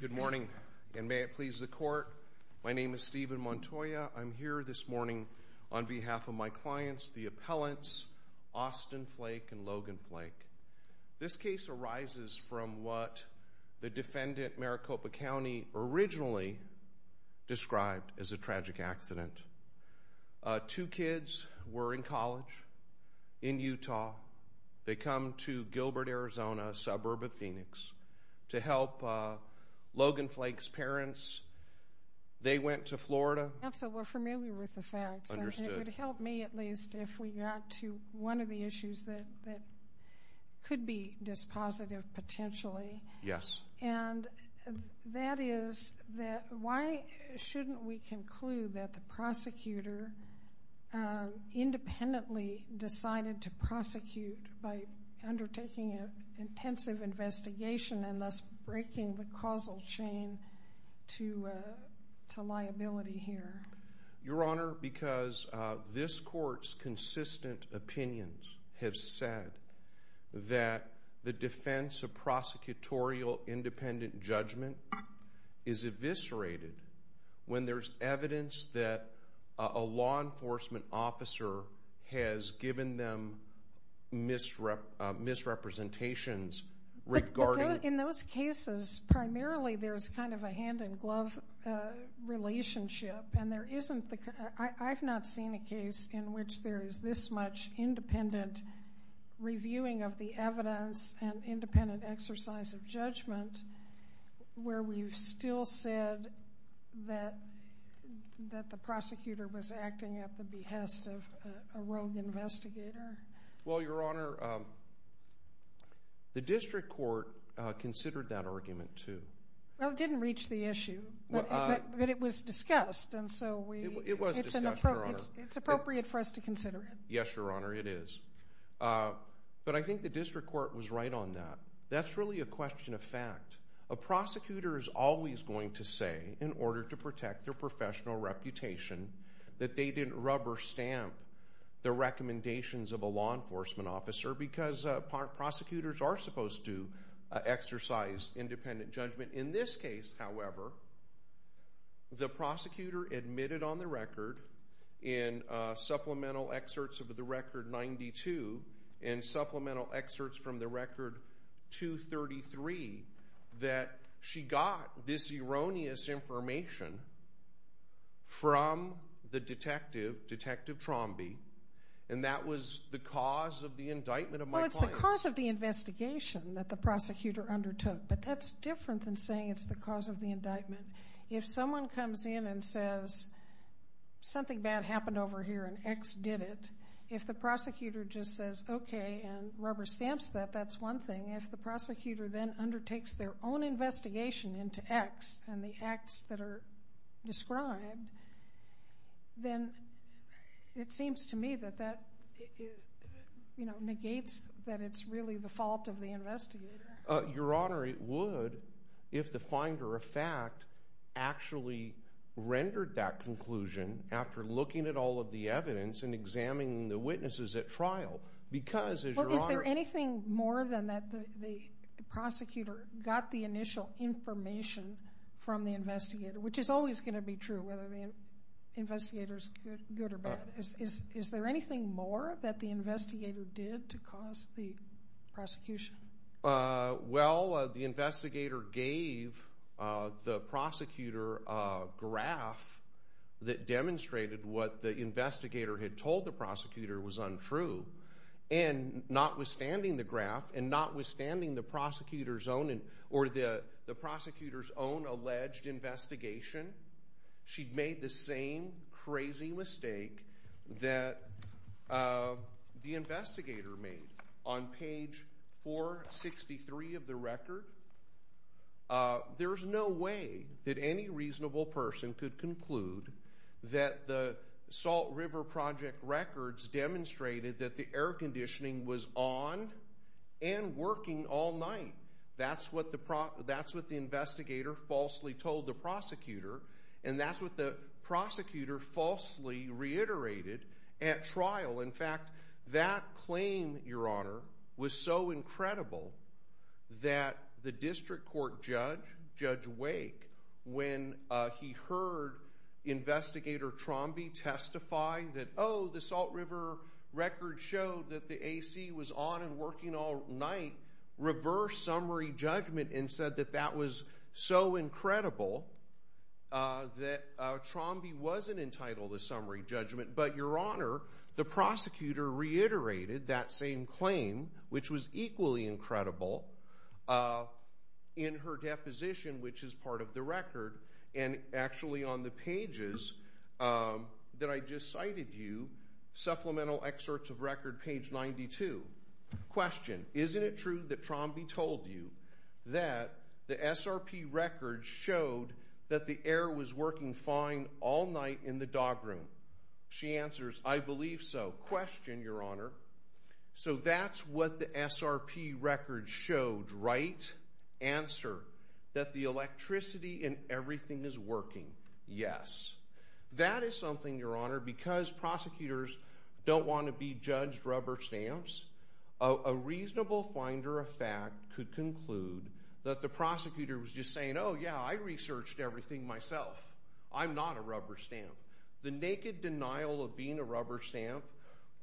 Good morning, and may it please the court. My name is Stephen Montoya. I'm here this morning on behalf of my clients, the appellants Austin Flake and Logan Flake. This case arises from what the defendant, Maricopa County, originally described as a tragic accident. Two kids were in college in Utah. They come to Gilbert, Arizona, a suburb of Phoenix, to help Logan Flake's parents. They went to Florida. Counsel, we're familiar with the facts. It would help me, at least, if we got to one of the issues that could be dispositive, potentially. Yes. And that is that why shouldn't we conclude that the prosecutor independently decided to intensive investigation and thus breaking the causal chain to liability here? Your Honor, because this court's consistent opinions have said that the defense of prosecutorial independent judgment is eviscerated when there's evidence that a law enforcement officer has given them misrepresentations regarding... In those cases, primarily, there's kind of a hand-in-glove relationship. I've not seen a case in which there is this much independent reviewing of the evidence and independent exercise of judgment where we've still said that the prosecutor was acting at the behest of a rogue investigator. Well, Your Honor, the district court considered that argument, too. Well, it didn't reach the issue, but it was discussed, and so it's appropriate for us to consider it. Yes, Your Honor, it is. But I think the district court was right on that. That's really a question of fact. A prosecutor is always going to say, in order to the recommendations of a law enforcement officer, because prosecutors are supposed to exercise independent judgment. In this case, however, the prosecutor admitted on the record in supplemental excerpts of the record 92 and supplemental excerpts from the record 233 that she got this erroneous information from the detective, Detective Trombi, and that was the cause of the indictment of my clients. Well, it's the cause of the investigation that the prosecutor undertook, but that's different than saying it's the cause of the indictment. If someone comes in and says, something bad happened over here and X did it, if the prosecutor just says, okay, and rubber stamps that, that's one thing. If the prosecutor then undertakes their own investigation into X and the acts that are described, then it seems to me that that, you know, negates that it's really the fault of the investigator. Your Honor, it would if the finder of fact actually rendered that conclusion after looking at all of the evidence and examining the witnesses at trial, because is there anything more than that the prosecutor got the initial information from the investigator, which is always going to be true, whether the investigators good or bad, is there anything more that the investigator did to cause the prosecution? Well, the investigator gave the prosecutor a graph that notwithstanding the graph and notwithstanding the prosecutor's own, or the prosecutor's own alleged investigation, she made the same crazy mistake that the investigator made on page 463 of the record. There's no way that any reasonable person could conclude that the Salt River Project records demonstrated that the air conditioning was on and working all night. That's what the, that's what the investigator falsely told the prosecutor, and that's what the prosecutor falsely reiterated at trial. In fact, that claim, Your Honor, was so incredible that the district court judge, Judge Wake, when he heard investigator Trombi testify that, oh, the Salt River record showed that the AC was on and working all night, reversed summary judgment and said that that was so incredible that Trombi wasn't entitled to summary judgment. But, Your Honor, the prosecutor reiterated that same claim, which was equally incredible, in her deposition, which is part of the record, and actually on the pages that I just cited you, supplemental excerpts of record page 92. Question, isn't it true that Trombi told you that the SRP records showed that the air was working fine all night in the dog room? She told you what the SRP records showed, right? Answer, that the electricity and everything is working. Yes. That is something, Your Honor, because prosecutors don't want to be judged rubber stamps. A reasonable finder of fact could conclude that the prosecutor was just saying, oh, yeah, I researched everything myself. I'm not a rubber stamp. The naked denial of being a rubber stamp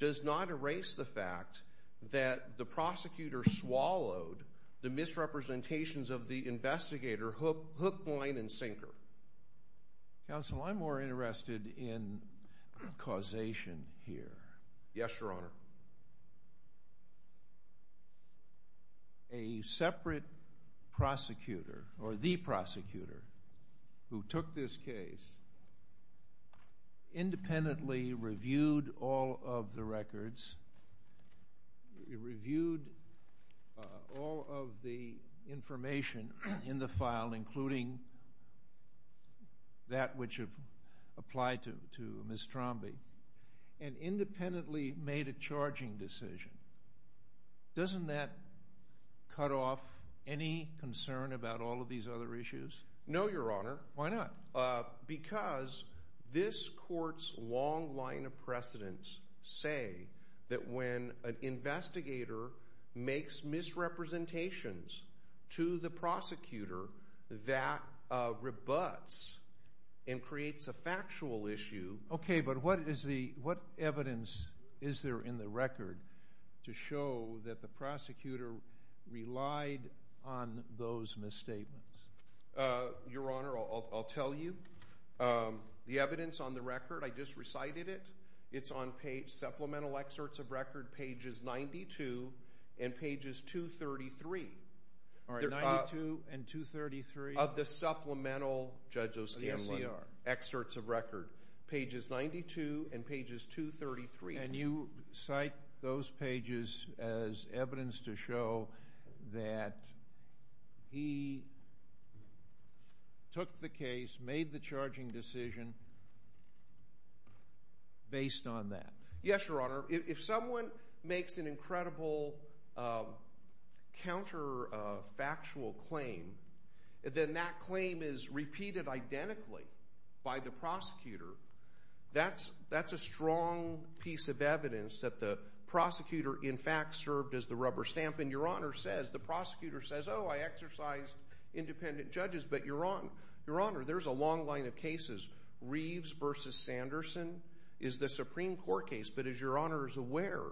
does not erase the fact that the prosecutor swallowed the misrepresentations of the investigator hook, line, and sinker. Counsel, I'm more interested in causation here. Yes, Your Honor. A separate prosecutor, or the prosecutor, who took this case, independently reviewed all of the records, reviewed all of the information in the file, including that which have applied to Ms. Trombi, and independently made a charging decision. Doesn't that cut off any concern about all of these other issues? No, Your Honor. Why not? Because this court's long line of precedence say that when an investigator makes misrepresentations to the prosecutor, that rebuts and creates a factual issue. Okay, but what is the, what evidence is there in the record to show that the prosecutor relied on those misstatements? Your Honor, I'll tell you. The evidence on the record, I just recited it. It's on page, supplemental excerpts of record, pages 92 and pages 233. All right, 92 and 233? Of the supplemental, Judge O'Scanlan, excerpts of record. Pages 92 and pages 233. And you cite those pages as evidence to show that he took the case, made the charging decision, based on that. Yes, Your Honor. If someone makes an incredible counterfactual claim, then that claim is repeated identically by the prosecutor. That's a strong piece of evidence that the prosecutor, in fact, served as the rubber stamp. And Your Honor says, the prosecutor says, oh, I exercised independent judges. But Your Honor, Your Honor, there's a long line of cases. Reeves versus Sanderson is the Supreme Court case. But as Your Honor is aware,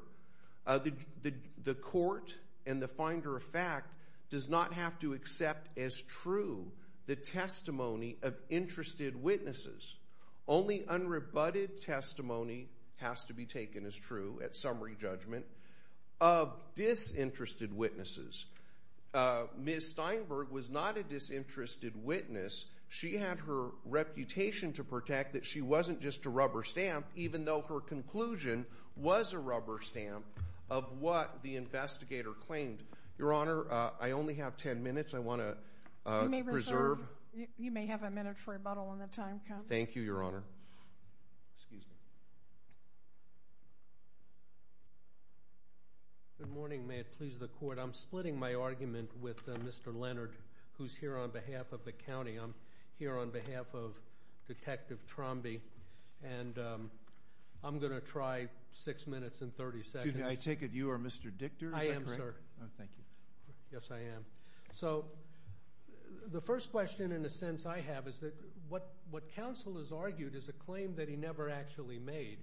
the court and the finder of fact does not have to accept as true the testimony of interested witnesses. Only unrebutted testimony has to be taken as true at summary judgment of disinterested witnesses. Ms. Steinberg was not a disinterested witness. She had her reputation to protect that she wasn't just a rubber stamp, even though her conclusion was a rubber stamp of what the investigator claimed. Your Honor, I only have 10 minutes. I want to reserve. You may have a minute for rebuttal when the time comes. Thank you, Your Honor. Excuse me. Good morning. May it please the court. I'm splitting my argument with Mr. Leonard, who's here on behalf of the county. I'm here on behalf of Detective Trombi. And I'm going to try six minutes and 30 seconds. Excuse me, I take it you are Mr. Dichter? I am, sir. Thank you. Yes, I am. So the first question in a sense I have is that what counsel has argued is a claim that he never actually made.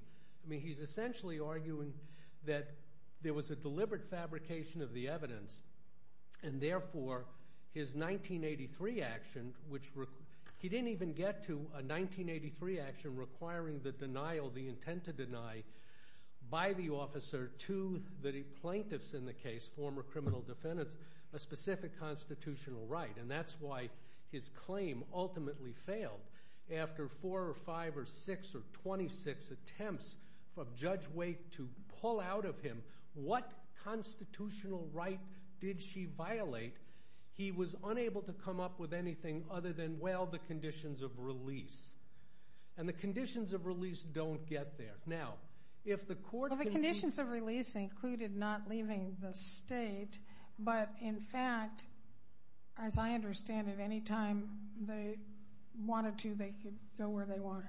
I mean, he's essentially arguing that there was a deliberate fabrication of the evidence. And therefore, his 1983 action, which he didn't even get to, a 1983 action requiring the denial, the intent to deny, by the officer to the plaintiffs in the case, former criminal defendants, a specific constitutional right. And that's why his claim ultimately failed. After four or five or six or 26 attempts of Judge Waite to pull out of him, what constitutional right did she violate? He was unable to come up with anything other than, well, the conditions of release. And the conditions of release don't get there. Now, if the court... Well, the conditions of release included not leaving the state, but in fact, as I understand it, any time they wanted to, they could go where they wanted.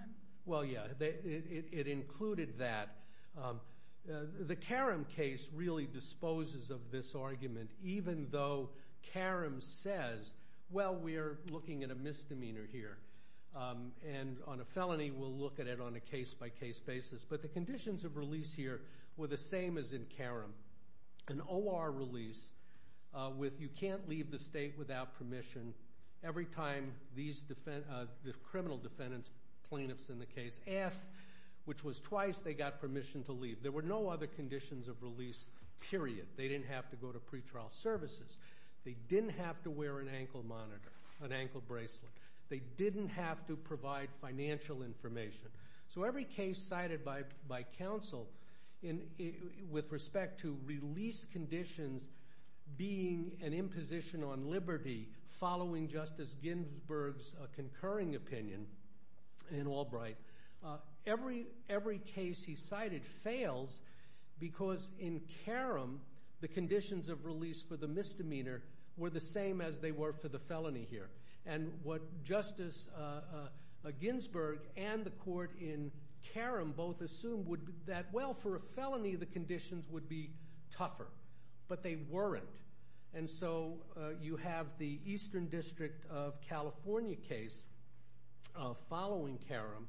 Well, yeah, it included that. The Karam case really disposes of this argument, even though Karam says, well, we're looking at a misdemeanor here. And on a felony, we'll look at it on a case-by-case basis. But the conditions of release here were the same as in Karam. An OR release, with you can't leave the state without permission, every time the criminal defendants, plaintiffs in the case, asked, which was twice they got permission to leave. There were no other conditions of release, period. They didn't have to go to pretrial services. They didn't have to wear an ankle monitor, an ankle bracelet. They didn't have to So every case cited by counsel with respect to release conditions being an imposition on liberty, following Justice Ginsburg's concurring opinion in Albright, every case he cited fails because in Karam, the conditions of release for the misdemeanor were the same as they were for the felony here. And what Justice Ginsburg and the court in Karam both assumed would be that, well, for a felony, the conditions would be tougher. But they weren't. And so you have the Eastern District of California case following Karam,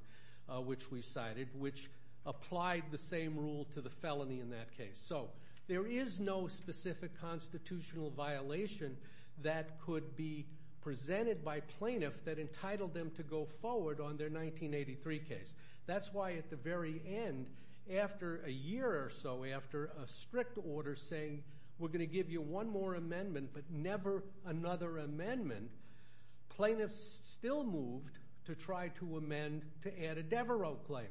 which we cited, which applied the same rule to the felony in that case. So there is no specific constitutional violation that could be presented by plaintiffs that entitled them to go forward on their 1983 case. That's why at the very end, after a year or so, after a strict order saying, we're going to give you one more amendment, but never another amendment, plaintiffs still moved to try to amend, to add a Devereaux claim.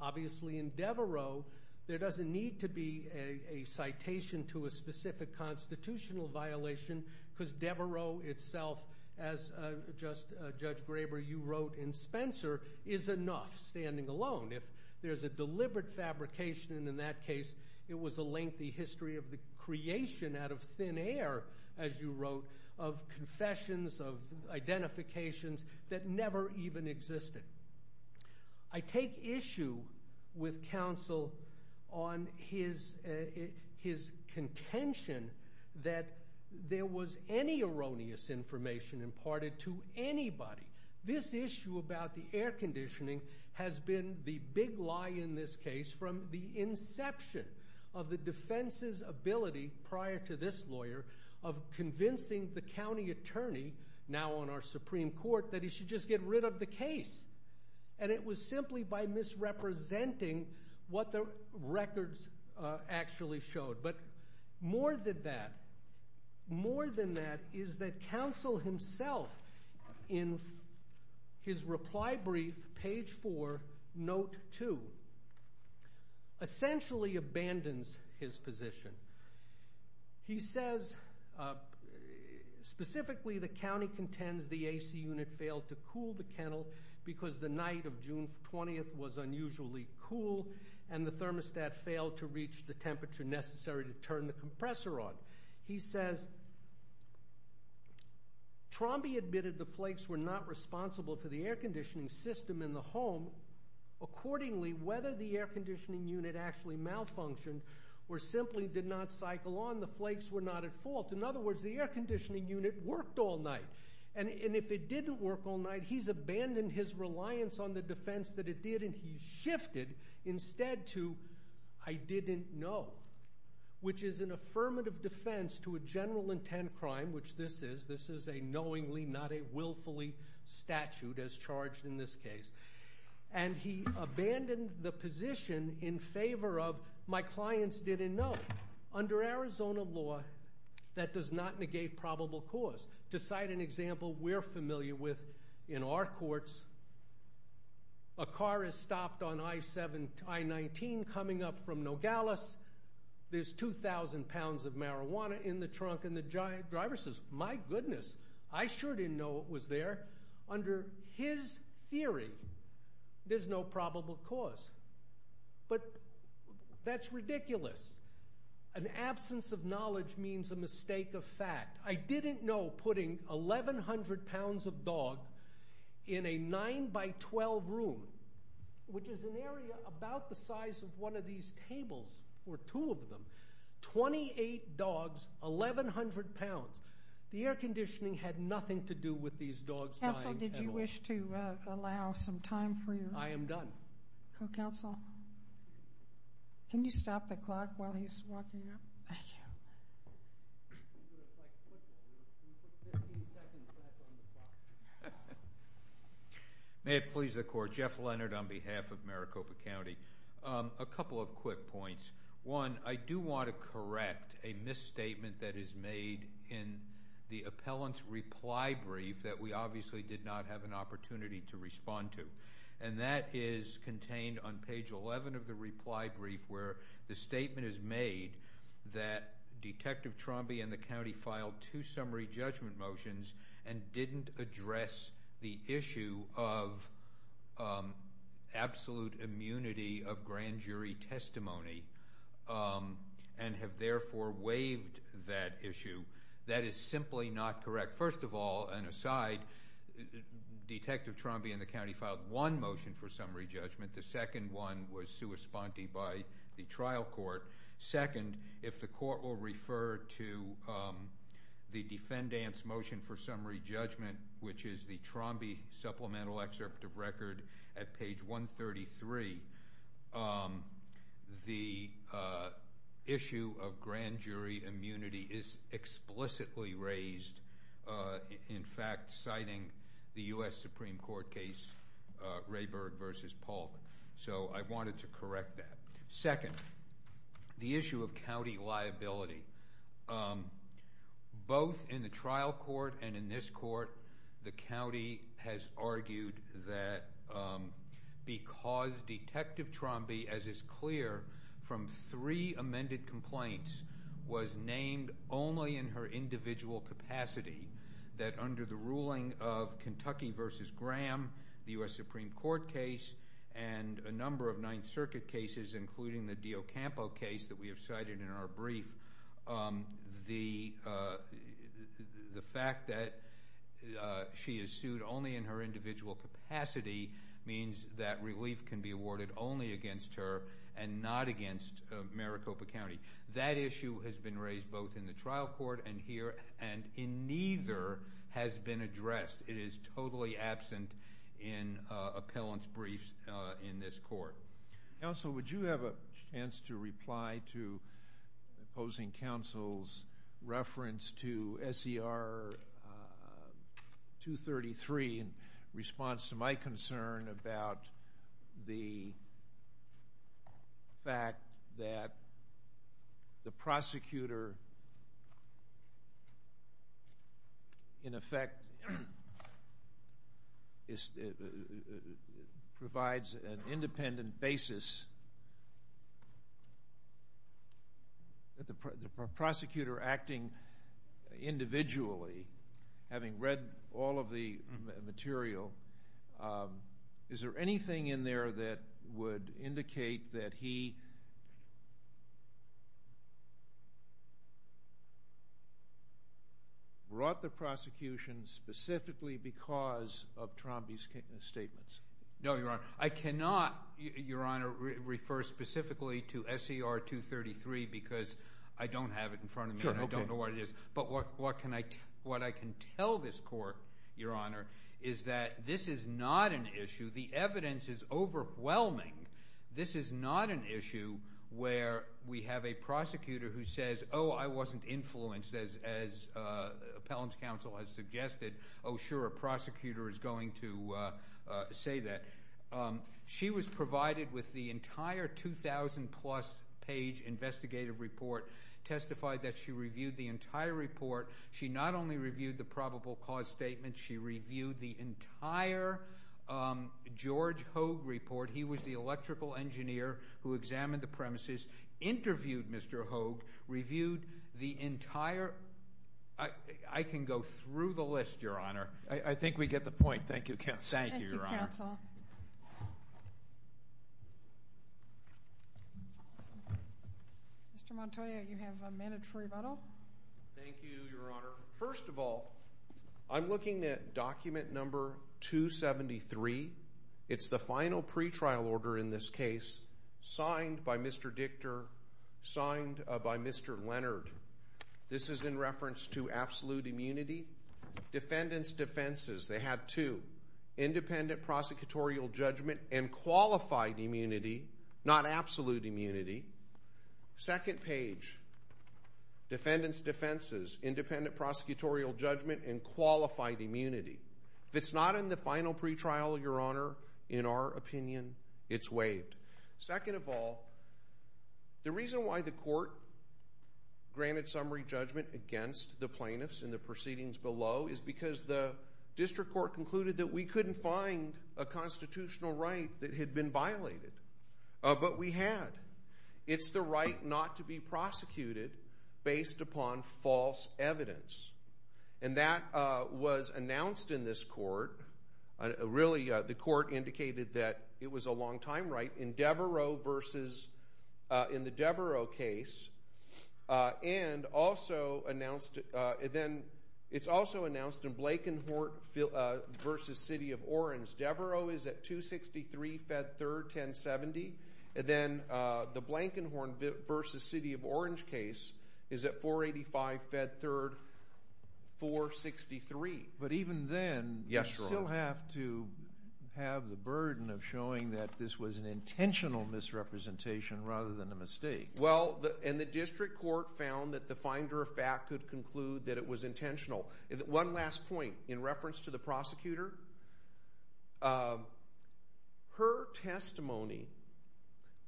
Obviously, in Devereaux, there doesn't need to be a specific constitutional violation because Devereaux itself, as Judge Graber, you wrote in Spencer, is enough standing alone. If there's a deliberate fabrication in that case, it was a lengthy history of the creation out of thin air, as you wrote, of confessions, of identifications that never even existed. I take issue with counsel on his contention that there was any erroneous information imparted to anybody. This issue about the air conditioning has been the big lie in this case from the inception of the defense's ability, prior to this lawyer, of convincing the county attorney, now on our Supreme Court, that he should just get rid of the case. It was simply by misrepresenting what the records actually showed. More than that, more than that is that counsel himself, in his reply brief, page 4, note 2, essentially abandons his position. He says, specifically, the county contends the AC unit failed to cool the kennel because the night of June 20th was unusually cool and the thermostat failed to reach the temperature necessary to turn the compressor on. He says, Trombi admitted the flakes were not responsible for the air conditioning system in the home. Accordingly, whether the air conditioning unit actually malfunctioned, or simply did not cycle on, the flakes were not at fault. In other words, the air conditioning unit worked all night. If it didn't work all night, he's abandoned his reliance on the defense that it did, and he's shifted instead to, I didn't know, which is an affirmative defense to a general intent crime, which this is. This is a knowingly, not a willfully statute, as charged in this case. He abandoned the position in favor of, my clients didn't know. Under Arizona law, that does not negate probable cause. To cite an example we're familiar with in our courts, a car is stopped on I-19 coming up from Nogales, there's 2,000 pounds of marijuana in the trunk, and the driver says, my goodness, I sure didn't know it was there. Under his theory, there's no probable cause, but that's ridiculous. An absence of knowledge means a mistake of fact. I didn't know putting 1,100 pounds of dog in a 9 by 12 room, which is an area about the size of one of these tables, or two of them, 28 dogs, 1,100 pounds. The air conditioning had nothing to do with these dogs dying at all. Counsel, did you wish to allow some time for your? I am done. Counsel, can you stop the clock while he's walking up? Thank you. May it please the court, Jeff Leonard on behalf of Maricopa County. A couple of quick points. One, I do want to correct a misstatement that is made in the appellant's reply brief that we obviously did not have an opportunity to respond to. That is contained on page 11 of the reply brief where the statement is made that Detective Trombi and the county filed two summary judgment motions and didn't address the issue of absolute immunity of that issue. That is simply not correct. First of all, and aside, Detective Trombi and the county filed one motion for summary judgment. The second one was sua sponte by the trial court. Second, if the court will refer to the defendant's motion for summary judgment, which is the Trombi supplemental excerpt of record at page 133, the issue of grand jury immunity is explicitly raised, in fact, citing the U.S. Supreme Court case Rayburg v. Polk. So I wanted to correct that. Second, the issue of county liability. Both in the trial court and in this court, the county has argued that because Detective Trombi, as is clear, from three amended complaints, was named only in her individual capacity, that under the ruling of Kentucky v. Graham, the U.S. Supreme Court case, and a number of Ninth Circuit cases, including the Diocampo case that we have cited in our she is sued only in her individual capacity means that relief can be awarded only against her and not against Maricopa County. That issue has been raised both in the trial court and here, and in neither has been addressed. It is totally absent in appellant's briefs in this court. Counsel, would you have a chance to reply to opposing counsel's reference to SCR 233 in response to my concern about the fact that the prosecutor, in effect, provides an independent basis. The prosecutor acting individually, having read all of the material, is there anything in there that would indicate that he brought the prosecution specifically because of Trombi's statements? No, Your Honor. I cannot, Your Honor, refer specifically to SCR 233 because I don't have it in front of me and I don't know what it is. But what I can tell this court, Your Honor, is that this is not an issue. The evidence is overwhelming. This is not an issue where we have a prosecutor who says, oh, I wasn't Oh, sure, a prosecutor is going to say that. She was provided with the entire 2,000-plus-page investigative report, testified that she reviewed the entire report. She not only reviewed the probable cause statement, she reviewed the entire George Hogue report. He was the electrical engineer who examined the Your Honor. I think we get the point. Thank you, Your Honor. Thank you, counsel. Mr. Montoya, you have a minute for rebuttal. Thank you, Your Honor. First of all, I'm looking at document number 273. It's the final pretrial order in this case signed by Mr. Dichter, signed by Mr. Leonard. This is in reference to absolute immunity, defendant's defenses. They have two, independent prosecutorial judgment and qualified immunity, not absolute immunity. Second page, defendant's defenses, independent prosecutorial judgment and qualified immunity. If it's not in the final pretrial, Your Honor, in our opinion, it's waived. Second of all, the reason why the court granted summary judgment against the plaintiffs in the proceedings below is because the district court concluded that we couldn't find a constitutional right that had been violated. But we had. It's the right not to be prosecuted based upon false evidence. And that was announced in this court. Really, the court indicated that it was a long-time right in Devereaux versus in the Devereaux case. And also announced then it's also announced in Blankenhorn versus City of Orange. Devereaux is at 263 Fed 3rd, 1070. And then the Blankenhorn versus City of Orange case is at 485 Fed 3rd, 463. But even then, you still have to have the burden of showing that this was an intentional misrepresentation rather than a mistake. Well, and the district court found that the finder of fact could conclude that it was intentional. One last point in reference to the prosecutor. Her testimony,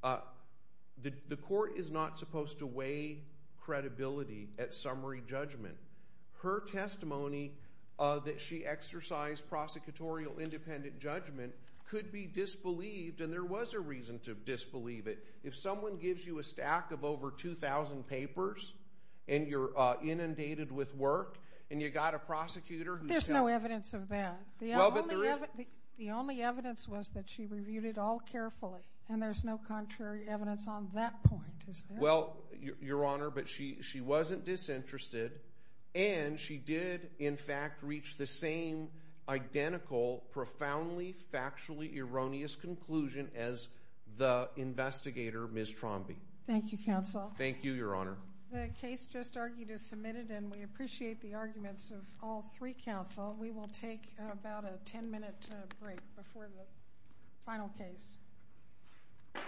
the court is not supposed to weigh credibility at summary judgment. Her testimony that she exercised prosecutorial independent judgment could be disbelieved. And there was a reason to disbelieve it. If someone gives you a stack of over 2,000 papers and you're inundated with work and you've got a prosecutor who's done it. There's no evidence of that. Well, but there is. The only evidence was that she reviewed it all carefully. And there's no contrary evidence on that point, is there? Well, Your Honor, but she wasn't disinterested. And she did, in fact, reach the same identical, profoundly factually erroneous conclusion as the investigator, Ms. Trombi. Thank you, counsel. Thank you, Your Honor. The case just argued is submitted, and we appreciate the arguments of all three counsel. We will take about a 10-minute break before the final case.